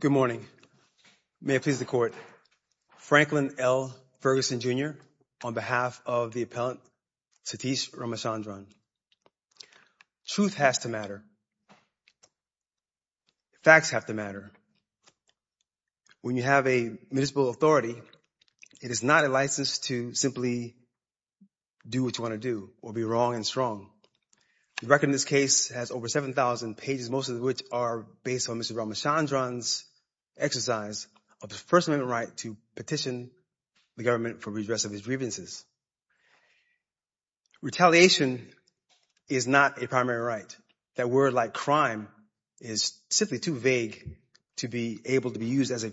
Good morning. May it please the court. Franklin L. Ferguson Jr. on behalf of the appellant Satish Ramachandran. Truth has to matter. Facts have to matter. When you have a municipal authority, it is not a license to simply do what you want to do or be wrong and strong. The record in this case has over 7,000 pages, most of which are based on Mr. Ramachandran's exercise of the First Amendment right to petition the government for redress of his grievances. Retaliation is not a primary right. That word like crime is simply too vague to be able to be used as a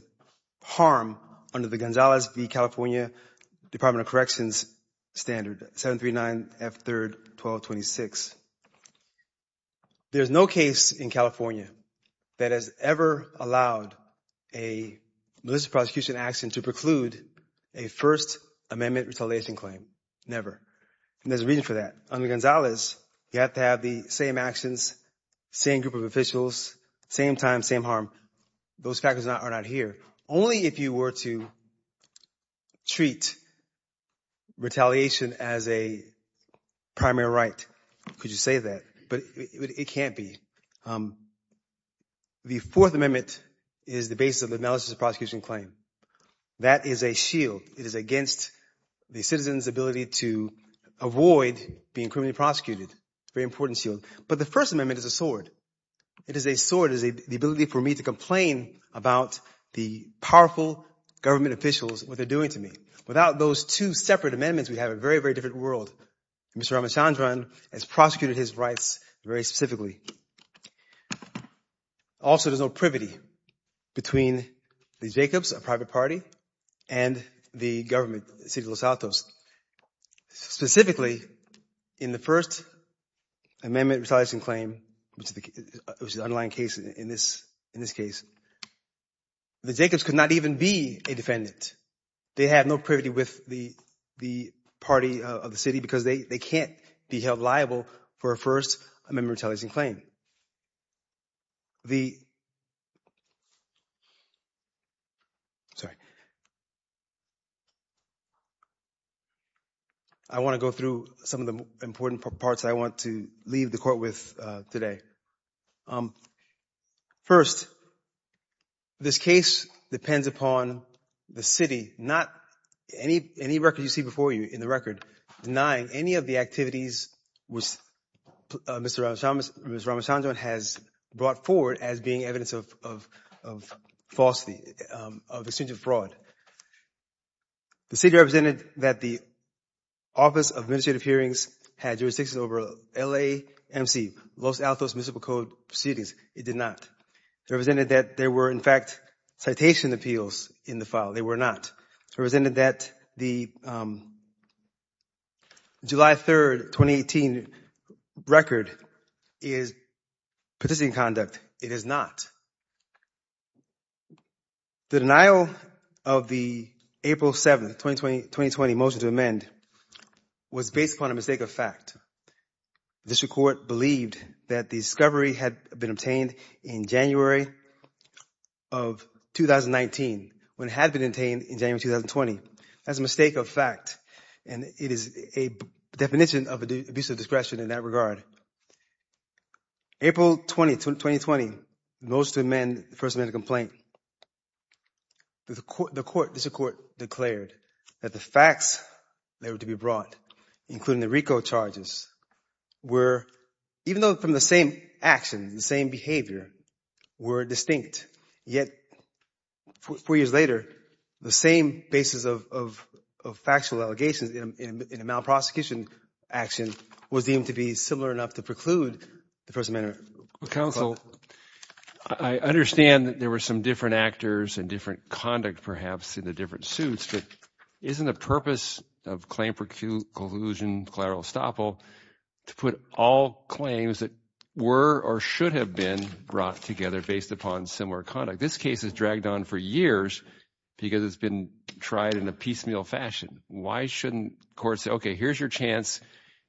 harm under the Gonzalez v. California Department of Corrections standard, 739 F 3rd 1226. There's no case in California that has ever allowed a militant prosecution action to preclude a First Amendment retaliation claim. Never. And there's a reason for that. Under Gonzalez, you have to have the same actions, same group of officials, same time, same harm. Those factors are not here. Only if you were to treat retaliation as a primary right could you say that, but it can't be. The Fourth Amendment is the basis of the analysis of prosecution claim. That is a shield. It is against the citizen's ability to avoid being criminally prosecuted. Very important shield. But the First Amendment is a sword. It is a sword. It is the ability for me to complain about the powerful government officials, what they're doing to me. Without those two separate amendments, we have a very, very different world. Mr. Ramachandran has prosecuted his rights very specifically. Also, there's no privity between the Jacobs, a private party, and the government, the city of Los Altos. Specifically, in the First Amendment retaliation claim, which is the underlying case in this case, the Jacobs could not even be a defendant. They have no privity with the party of the city because they can't be held liable for a First Amendment retaliation claim. I want to go through some of the important parts I want to leave the court with today. First, this case depends upon the city, not any record you see Mr. Ramachandran has brought forward as being evidence of falsity, of exchange of fraud. The city represented that the Office of Administrative Hearings had jurisdiction over LAMC, Los Altos Municipal Code proceedings. It did not. It represented that there were, in fact, citation appeals in the file. They were not. It represented that the July 3rd, 2018 record is participating conduct. It is not. The denial of the April 7th, 2020 motion to amend was based upon a mistake of fact. District Court believed that the discovery had been obtained in January of 2019 when it had been obtained in January 2020. That's a mistake of fact and it is a definition of an abuse of discretion in that regard. April 20, 2020, the motion to amend the First Amendment complaint. The court, District Court, declared that the facts that were to be brought, including the RICO charges, were, even though from the same action, the same behavior, were distinct. Yet, four years later, the same basis of factual allegations in a malprosecution action was deemed to be similar enough to preclude the First Amendment. Counsel, I understand that there were some different actors and different conduct, perhaps, in the different suits, but isn't the purpose of claim preclusion, collateral estoppel, to put all claims that were or should have been brought together based upon similar conduct? This case is dragged on for years because it's been tried in a piecemeal fashion. Why shouldn't courts say, okay, here's your chance,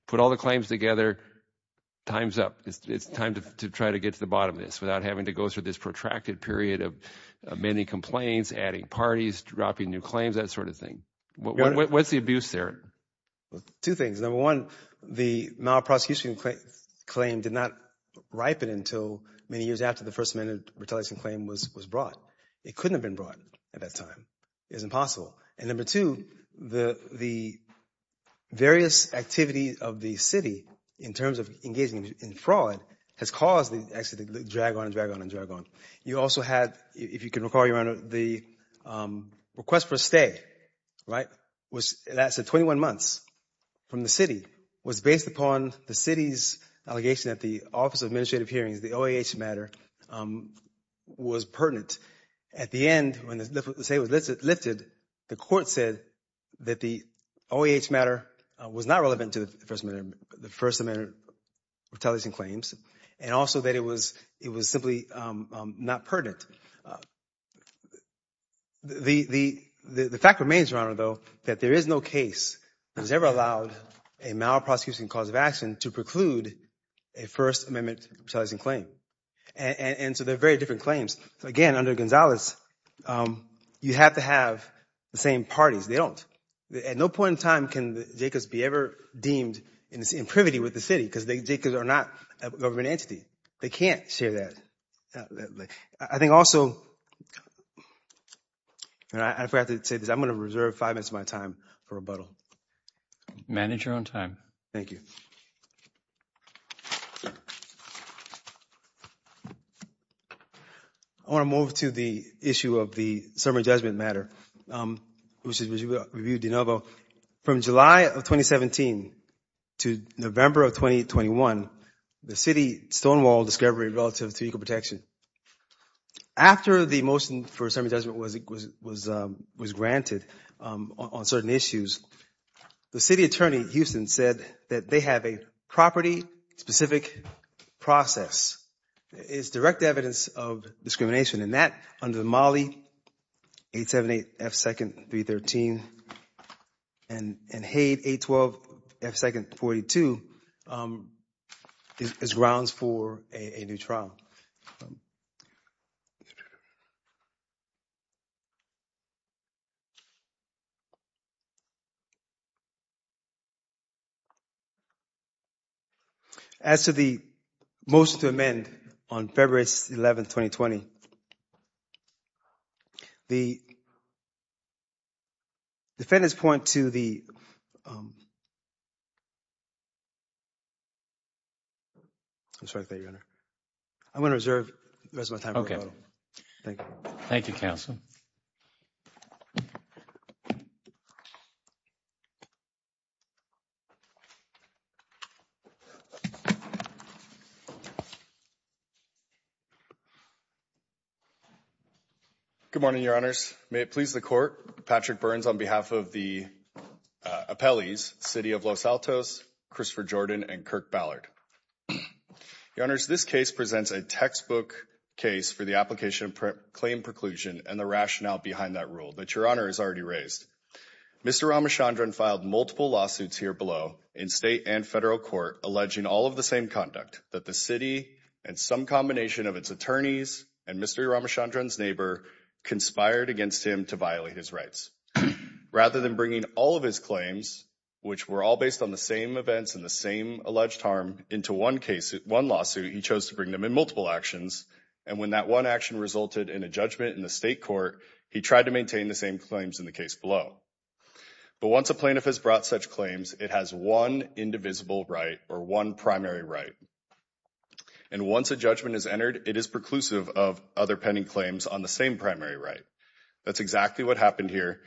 put all the claims together, time's up. It's time to try to get to the bottom of this without having to go through this protracted period of amending complaints, adding parties, dropping new claims, that sort of thing. What's the abuse there? Two things. Number one, the malprosecution claim did not ripen until many years after the First Amendment retaliation claim was brought. It couldn't have been brought at that time. It's impossible. And number two, the various activities of the city, in terms of engaging in fraud, has caused the accident to drag on and drag on and drag on. You also had, if you can recall, Your Honor, the request for a stay, right, that's at 21 months from the city, was based upon the city's allegation that the Office of Administrative Hearings, the OAH matter, was pertinent. At the end, when the stay was lifted, the court said that the OAH matter was not relevant to the First Amendment retaliation claims and also that it was simply not pertinent. The fact remains, Your Honor, though, that there is no case that has ever allowed a malprosecution cause of action to preclude a First Amendment retaliation claim. And so they're very different claims. Again, under Gonzalez, you have to have the same parties. They don't. At no point in time can the Jacobs be ever deemed in privity with the city, because the Jacobs are not a government entity. They can't share that. I think also, and I forgot to say this, I'm going to reserve five minutes of my time for rebuttal. Manage your own time. Thank you. I want to move to the issue of the summary judgment matter, which was reviewed de novo. From July of 2017 to November of 2021, the city stonewalled discovery relative to equal protection. After the motion for summary judgment was granted on certain issues, the city attorney, Houston, said that they have a property-specific process. It's direct evidence of discrimination, and that, under the Mollie 878 F. 2nd 313 and Haight 812 F. 2nd 42, is grounds for a new trial. As to the motion to amend on February 11, 2020, the defendants point to the I'm sorry. I'm going to reserve the rest of my time. Thank you, counsel. Good morning, your honors. May it please the court. Patrick Burns on behalf of the appellees, city of Los Altos, Christopher Jordan, and Kirk Ballard. Your honors, this case presents a textbook case for the application claim preclusion and the rationale behind that rule that your honor has already raised. Mr. Ramachandran filed multiple lawsuits here below in state and federal court, alleging all of the same conduct that the city and some combination of its attorneys and Mr. Ramachandran's neighbor conspired against him to violate his rights. Rather than bringing all of his claims, which were all based on the same events and the same alleged harm into one case, one lawsuit, he chose to bring them in multiple actions. And when that one action resulted in a judgment in the state court, he tried to maintain the same claims in the case below. But once a plaintiff has brought such claims, it has one indivisible right or one primary right. And once a judgment is entered, it is preclusive of other pending claims on the same primary right. That's exactly what happened here.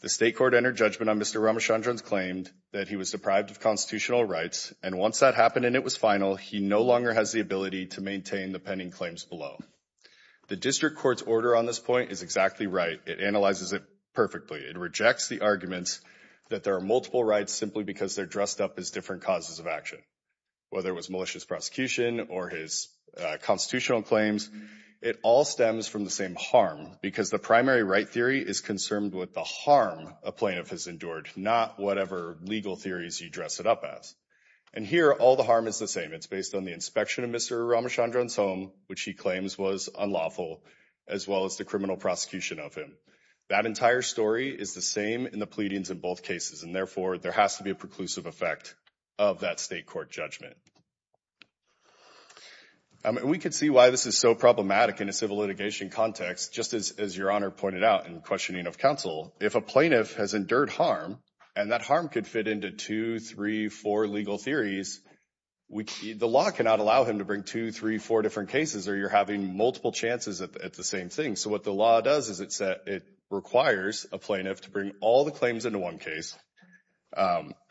The state court entered judgment on Mr. Ramachandran's claimed that he was deprived of constitutional rights. And once that happened and it was final, he no longer has the ability to maintain the pending claims below. The district court's order on this point is exactly right. It analyzes it perfectly. It rejects the arguments that there are multiple rights simply because they're dressed up as different causes of action, whether it was malicious prosecution or his constitutional claims. It all stems from the same harm because the primary right theory is concerned with the harm a plaintiff has endured, not whatever legal theories you dress it up as. And here, all the harm is the same. It's based on the inspection of Mr. Ramachandran's home, which he claims was unlawful, as well as the criminal prosecution of him. That entire story is the same in the pleadings in both cases. And therefore, there has to be a preclusive effect of that state court judgment. We could see why this is so problematic in a civil litigation context, just as your honor pointed out in questioning of counsel. If a plaintiff has endured harm and that harm could fit into two, three, four legal theories, the law cannot allow him to bring two, three, four different cases or you're having multiple chances at the same thing. So what the law does is it requires a plaintiff to bring all the claims into one case,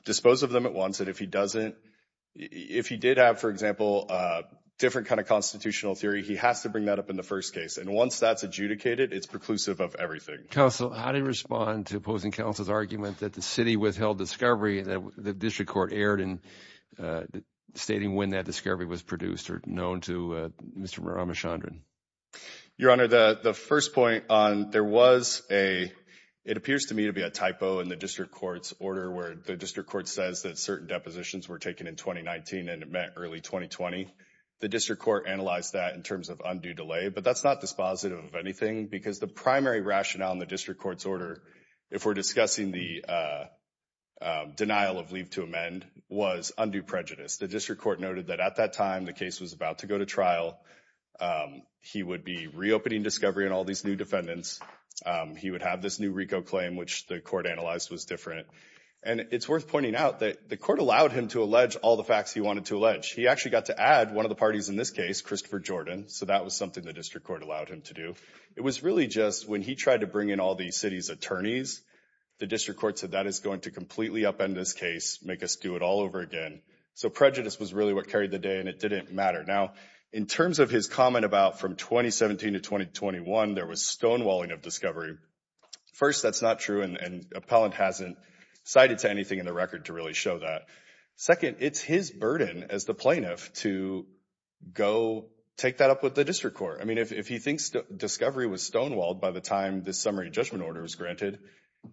dispose of them at once. And if he did have, for example, a different kind of constitutional theory, he has to bring that up in the first case. And once that's adjudicated, it's preclusive of everything. Counsel, how do you respond to counsel's argument that the city withheld discovery that the district court erred in stating when that discovery was produced or known to Mr. Ramachandran? Your honor, the first point on there was a, it appears to me to be a typo in the district court's order where the district court says that certain depositions were taken in 2019 and it meant early 2020. The district court analyzed that in terms of undue delay, but that's not dispositive of anything because the primary rationale in the district court's order, if we're discussing the denial of leave to amend, was undue prejudice. The district court noted that at that time the case was about to go to trial. He would be reopening discovery and all these new defendants. He would have this new RICO claim, which the court analyzed was different. And it's worth pointing out that the court allowed him to allege all the facts he wanted to allege. He actually got to add one of the parties in this case, Christopher Jordan. So that was something the district court allowed him to do. It was really just when he tried to bring in all the city's attorneys, the district court said that is going to completely upend this case, make us do it all over again. So prejudice was really what carried the day and it didn't matter. Now in terms of his comment about from 2017 to 2021, there was stonewalling of discovery. First, that's not true and appellant hasn't cited to anything in the record to really show that. Second, it's his burden as the plaintiff to go take that up with the district court. I mean, if he thinks discovery was stonewalled by the time this summary judgment order was granted,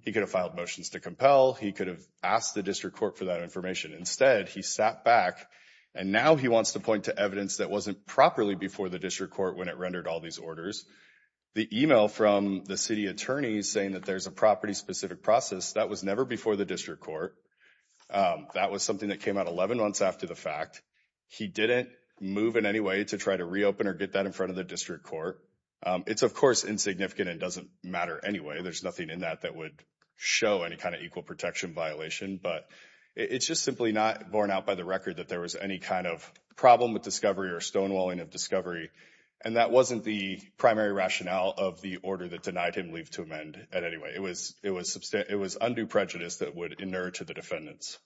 he could have filed motions to compel. He could have asked the district court for that information. Instead, he sat back and now he wants to point to evidence that wasn't properly before the district court when it rendered all these orders. The email from the city attorney saying that there's a property specific process, that was never before the district court. That was something that came out 11 months after the fact. He didn't move in any way to try to reopen or get that in front of the district court. It's of course insignificant and doesn't matter anyway. There's nothing in that that would show any kind of equal protection violation, but it's just simply not borne out by the record that there was any kind of problem with discovery or stonewalling of discovery and that wasn't the primary rationale of the order that denied him leave to amend at any way. It was undue prejudice that would inerr to the defendants.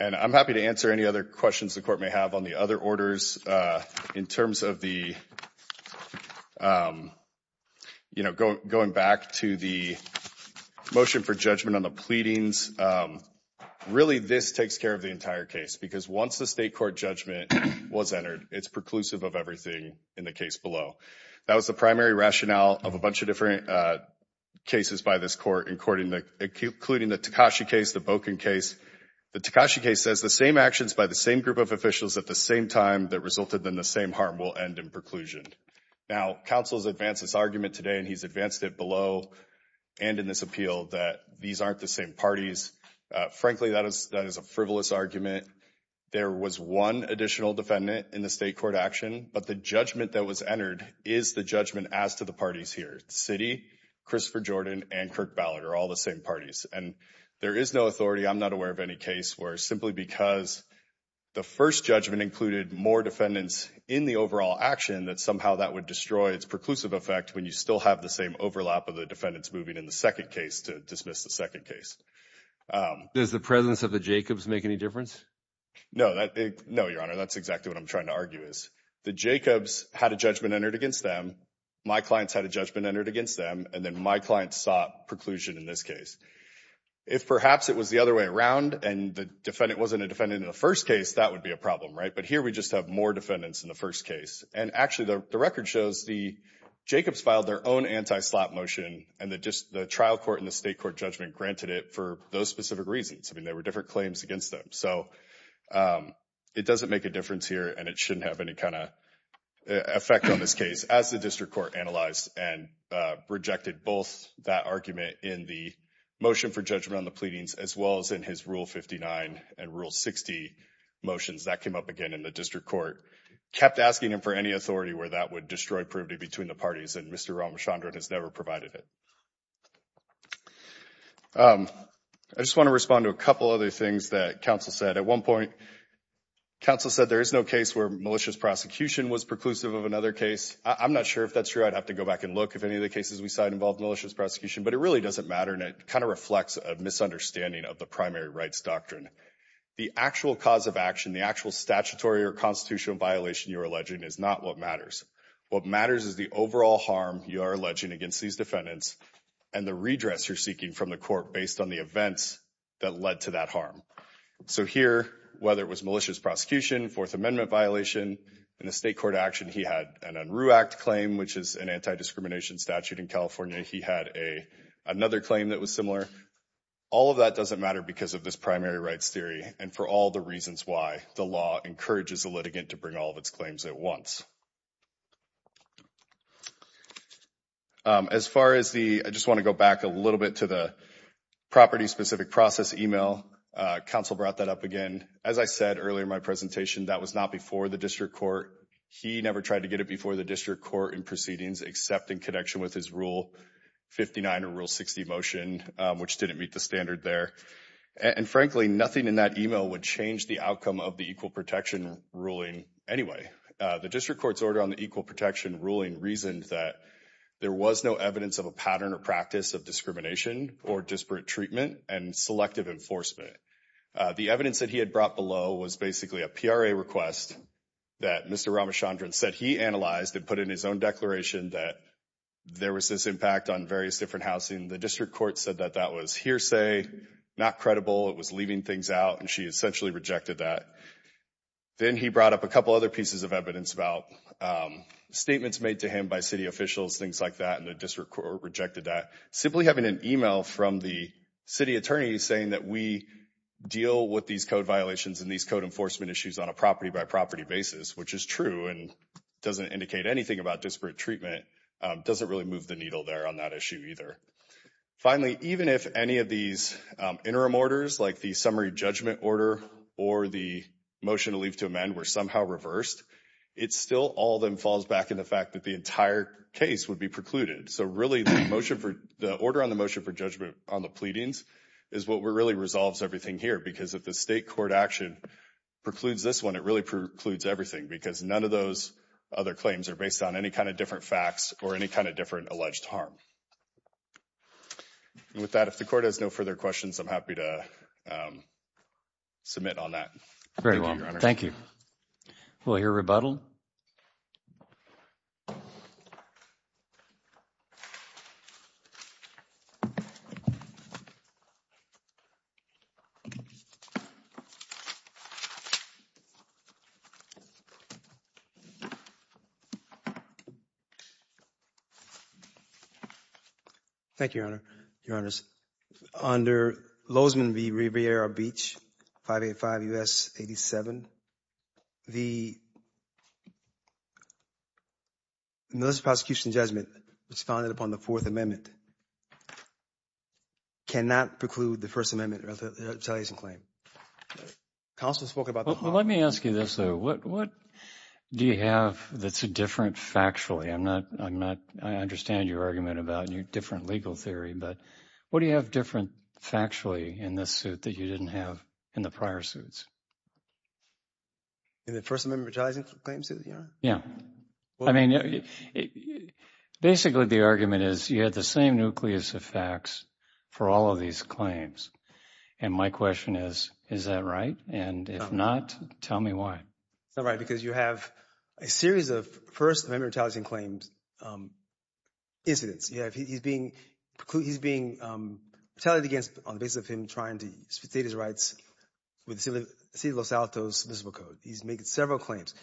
And I'm happy to answer any other questions the court may have on the other orders in terms of the, you know, going back to the motion for judgment on the pleadings. Really, this takes care of the entire case because once the state court judgment was entered, it's preclusive of everything in the case below. That was the primary rationale of a bunch of different cases by this court including the Tekashi case, the Bokin case. The Tekashi case says the same actions by the same group of officials at the same time that resulted in the same harm will end in preclusion. Now, counsel's advanced this argument today and he's advanced it below and in this appeal that these aren't the same parties. Frankly, that is a frivolous argument. There was one additional defendant in the state court action, but the judgment that was entered is the judgment as to the parties here. Citi, Christopher Jordan, and Kirk Ballard are all the same parties and there is no authority. I'm not aware of any case where simply because the first judgment included more defendants in the overall action that somehow that would destroy its preclusive effect when you still have the same overlap of the defendants moving in the second case to dismiss the second case. Does the presence of the Jacobs make any difference? No, your honor. That's exactly what I'm trying to argue is the Jacobs had a judgment entered against them. My clients had a judgment entered against them and then my clients sought preclusion in this case. If perhaps it was the other way around and the defendant wasn't a defendant in the first case, that would be a problem, right? But here we just have more defendants in the first case and actually the record shows the Jacobs filed their own anti-slap motion and that just the trial court and the state court judgment granted it for those specific reasons. I mean, there were different claims against them, so it doesn't make a difference here and it shouldn't have any kind of effect on this case as the district court analyzed and rejected both that argument in the motion for judgment on the pleadings as well as in his rule 59 and rule 60 motions that came up again in the district court. Kept asking him for any authority where that would destroy privity between the parties and Mr. Ramachandran has never provided it. I just want to respond to a couple other things that counsel said. At one point, counsel said there is no case where malicious prosecution was preclusive of another case. I'm not sure if that's true. I'd have to go back and look if any of the cases we looked at involved malicious prosecution, but it really doesn't matter and it kind of reflects a misunderstanding of the primary rights doctrine. The actual cause of action, the actual statutory or constitutional violation you're alleging is not what matters. What matters is the overall harm you are alleging against these defendants and the redress you're seeking from the court based on the events that led to that harm. So here, whether it was malicious prosecution, Fourth Amendment violation, in the state court action he had an Unruh Act claim, which is an anti-discrimination statute in California. He had another claim that was similar. All of that doesn't matter because of this primary rights theory and for all the reasons why the law encourages the litigant to bring all of its claims at once. As far as the, I just want to go back a little bit to the property specific process email. Counsel brought that up again. As I said earlier in my presentation, that was not before the district court. He never tried to get it before the district court in proceedings except in connection with his Rule 59 or Rule 60 motion, which didn't meet the standard there. And frankly, nothing in that email would change the outcome of the Equal Protection ruling anyway. The district court's order on the Equal Protection ruling reasoned that there was no evidence of a pattern or practice of discrimination or disparate treatment and selective enforcement. The evidence that he had brought below was basically a PRA request that Mr. Ramachandran said he analyzed and put in his own declaration that there was this impact on various different housing. The district court said that that was hearsay, not credible, it was leaving things out, and she essentially rejected that. Then he brought up a couple other pieces of evidence about statements made to him by city officials, things like that, and the district court rejected that. Simply having an email from the city attorney saying that we deal with these code violations and these code enforcement issues on a property basis, which is true and doesn't indicate anything about disparate treatment, doesn't really move the needle there on that issue either. Finally, even if any of these interim orders, like the summary judgment order or the motion to leave to amend were somehow reversed, it still all then falls back in the fact that the entire case would be precluded. So really the order on the motion for judgment on the pleadings is what really resolves everything here because if the state court action precludes this one, it really precludes everything because none of those other claims are based on any kind of different facts or any kind of different alleged harm. With that, if the court has no further questions, I'm happy to submit on that. Very well, thank you. We'll hear rebuttal. Thank you, Your Honor. Your Honors, under Lozman v. Riviera Beach, 585 U.S. 87, the malicious prosecution judgment responded upon the Fourth Amendment cannot preclude the First Amendment retaliation claim. Counsel spoke about that. Let me ask you this, though. What do you have that's different factually? I'm not, I'm not, I understand your argument about your different legal theory, but what do you have different factually in this suit that you didn't have in the prior suits? In the First Amendment retaliation claims? Yeah. I mean, basically the argument is you had the same nucleus of facts for all of these claims. And my question is, is that right? And if not, tell me why. It's not right because you have a series of First Amendment retaliation claims incidents. You have, he's being, he's being retaliated against on the basis of him trying to state his rights with the City of Los Altos Municipal Code. He's making several claims.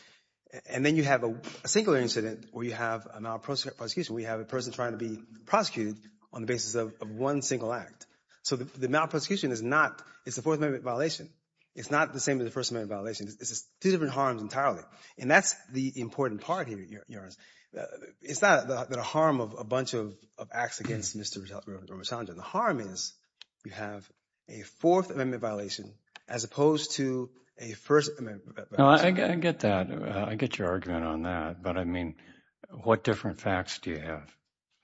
And then you have a singular incident where you have a malprosecution. We have a person trying to be prosecuted on the basis of one single act. So the malprosecution is not, it's a Fourth Amendment violation. It's not the same as the First Amendment violation. It's two different harms entirely. And that's the important part here, Your Honor. It's not that a harm of a bunch of acts against Mr. Rosado. The harm is you have a Fourth Amendment violation as opposed to a First Amendment violation. I get that. I get your argument on that. But I mean, what different facts do you have?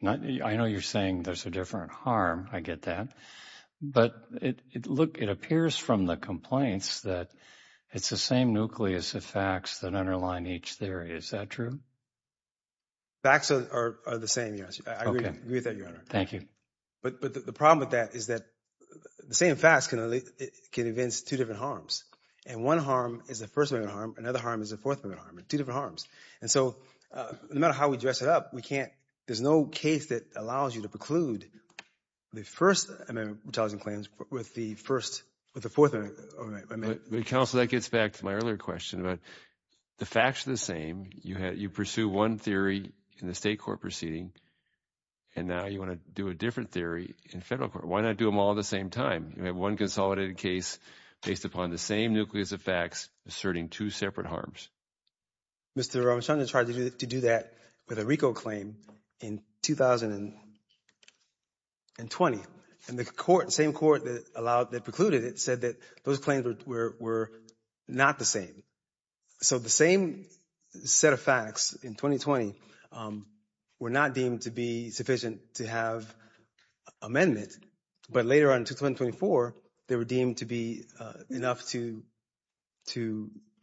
I know you're saying there's a different harm. I get that. But look, it appears from the complaints that it's the same nucleus of facts that each theory. Is that true? Facts are the same. Yes, I agree with that, Your Honor. Thank you. But the problem with that is that the same facts can evince two different harms. And one harm is the First Amendment harm. Another harm is the Fourth Amendment harm. Two different harms. And so no matter how we dress it up, we can't, there's no case that allows you to preclude the First Amendment retaliation claims with the First, with the Fourth Amendment. Counsel, that gets back to my earlier question about the facts are the same. You pursue one theory in the state court proceeding. And now you want to do a different theory in federal court. Why not do them all at the same time? You have one consolidated case based upon the same nucleus of facts asserting two separate harms. Mr. Rosado tried to do that with a RICO claim in 2020. And the same court that allowed, that precluded it said that those claims were not the same. So the same set of facts in 2020 were not deemed to be sufficient to have amendment. But later on in 2024, they were deemed to be enough to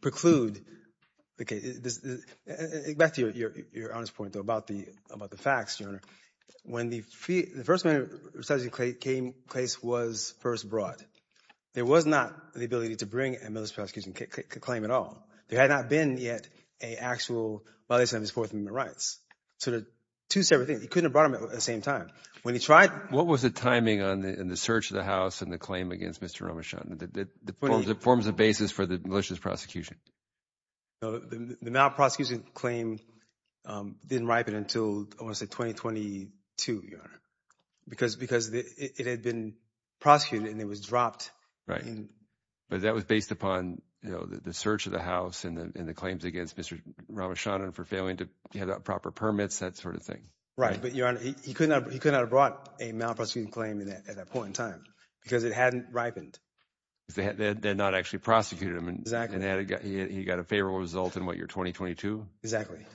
preclude the case. Back to your point about the facts, when the First Amendment retaliation case was first brought, there was not the ability to bring a malicious prosecution claim at all. There had not been yet a actual violation of his Fourth Amendment rights. So the two separate things, he couldn't have brought them at the same time. When he tried. What was the timing on the search of the house and the claim against Mr. Ramachandran, the forms of basis for the malicious prosecution? So the malprosecution claim didn't ripen until, I want to say 2022, Your Honor, because it had been prosecuted and it was dropped. Right. But that was based upon the search of the house and the claims against Mr. Ramachandran for failing to have the proper permits, that sort of thing. Right. But Your Honor, he could not have brought a malprosecution claim at that point in time because it hadn't ripened. Because they had not actually prosecuted him and he got a favorable result in, what, your 2022? Exactly.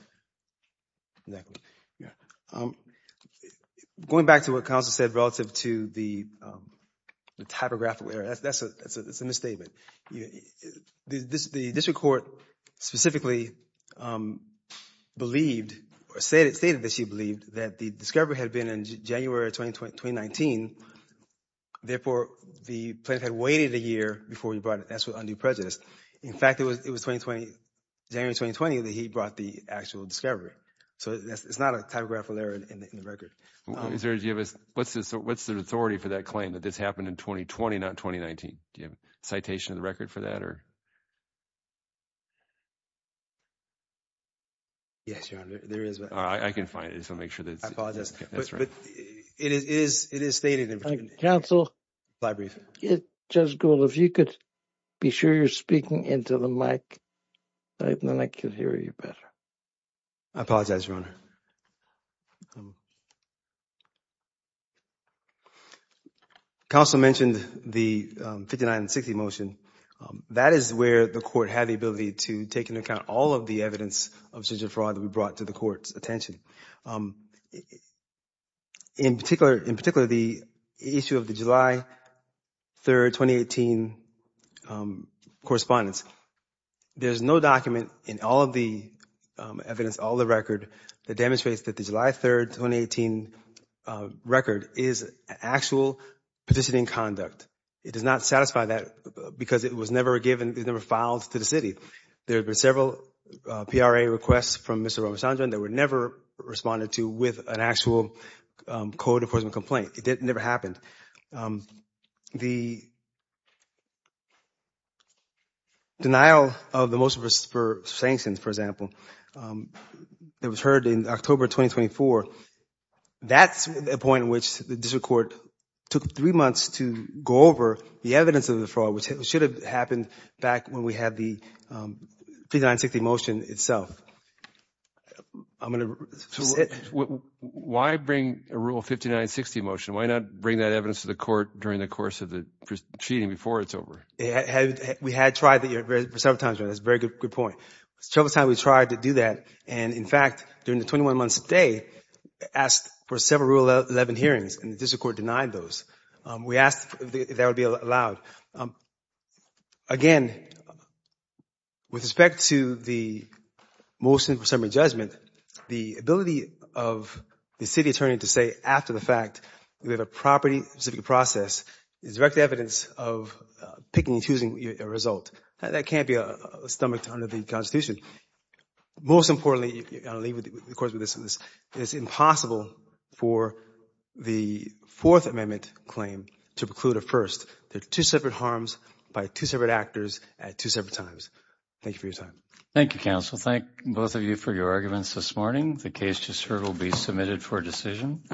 Going back to what counsel said relative to the typographical error, that's a misstatement. The district court specifically believed or stated that she waited a year before he brought it. That's what undue prejudice. In fact, it was January 2020 that he brought the actual discovery. So it's not a typographical error in the record. What's the authority for that claim that this happened in 2020, not 2019? Do you have a citation of the record for that? Yes, Your Honor, there is. I can find it. So make sure that's right. It is stated in between. Counsel, if you could be sure you're speaking into the mic, then I can hear you better. I apologize, Your Honor. Counsel mentioned the 5960 motion. That is where the court had the ability to take into account all of the evidence of decision fraud that we brought to the court's attention. In particular, the issue of the July 3, 2018 correspondence, there's no document in all of the evidence, all the record that demonstrates that the July 3, 2018 record is actual petitioning conduct. It does not satisfy that because it was never given, it was never filed to the city. There were several PRA requests from Mr. Ramachandran that were never responded to with an actual code enforcement complaint. It never happened. The denial of the motion for sanctions, for example, that was heard in October 2024, that's a point in which the district court took three months to go over the evidence of the motion. Why bring a Rule 5960 motion? Why not bring that evidence to the court during the course of the proceeding before it's over? We had tried that several times, Your Honor, that's a very good point. Several times we tried to do that and, in fact, during the 21 months of the day, asked for several Rule 11 hearings and the district court denied those. We asked if that would be allowed. Again, with respect to the motion for summary judgment, the ability of the city attorney to say after the fact we have a property-specific process is direct evidence of picking and choosing a result. That can't be a stomach under the Constitution. Most importantly, of course, it's impossible for the Fourth Amendment claim to preclude a first. They're two separate harms by two separate actors at two separate times. Thank you for your time. Thank you, counsel. Thank both of you for your arguments this morning. The case just heard will be submitted for decision.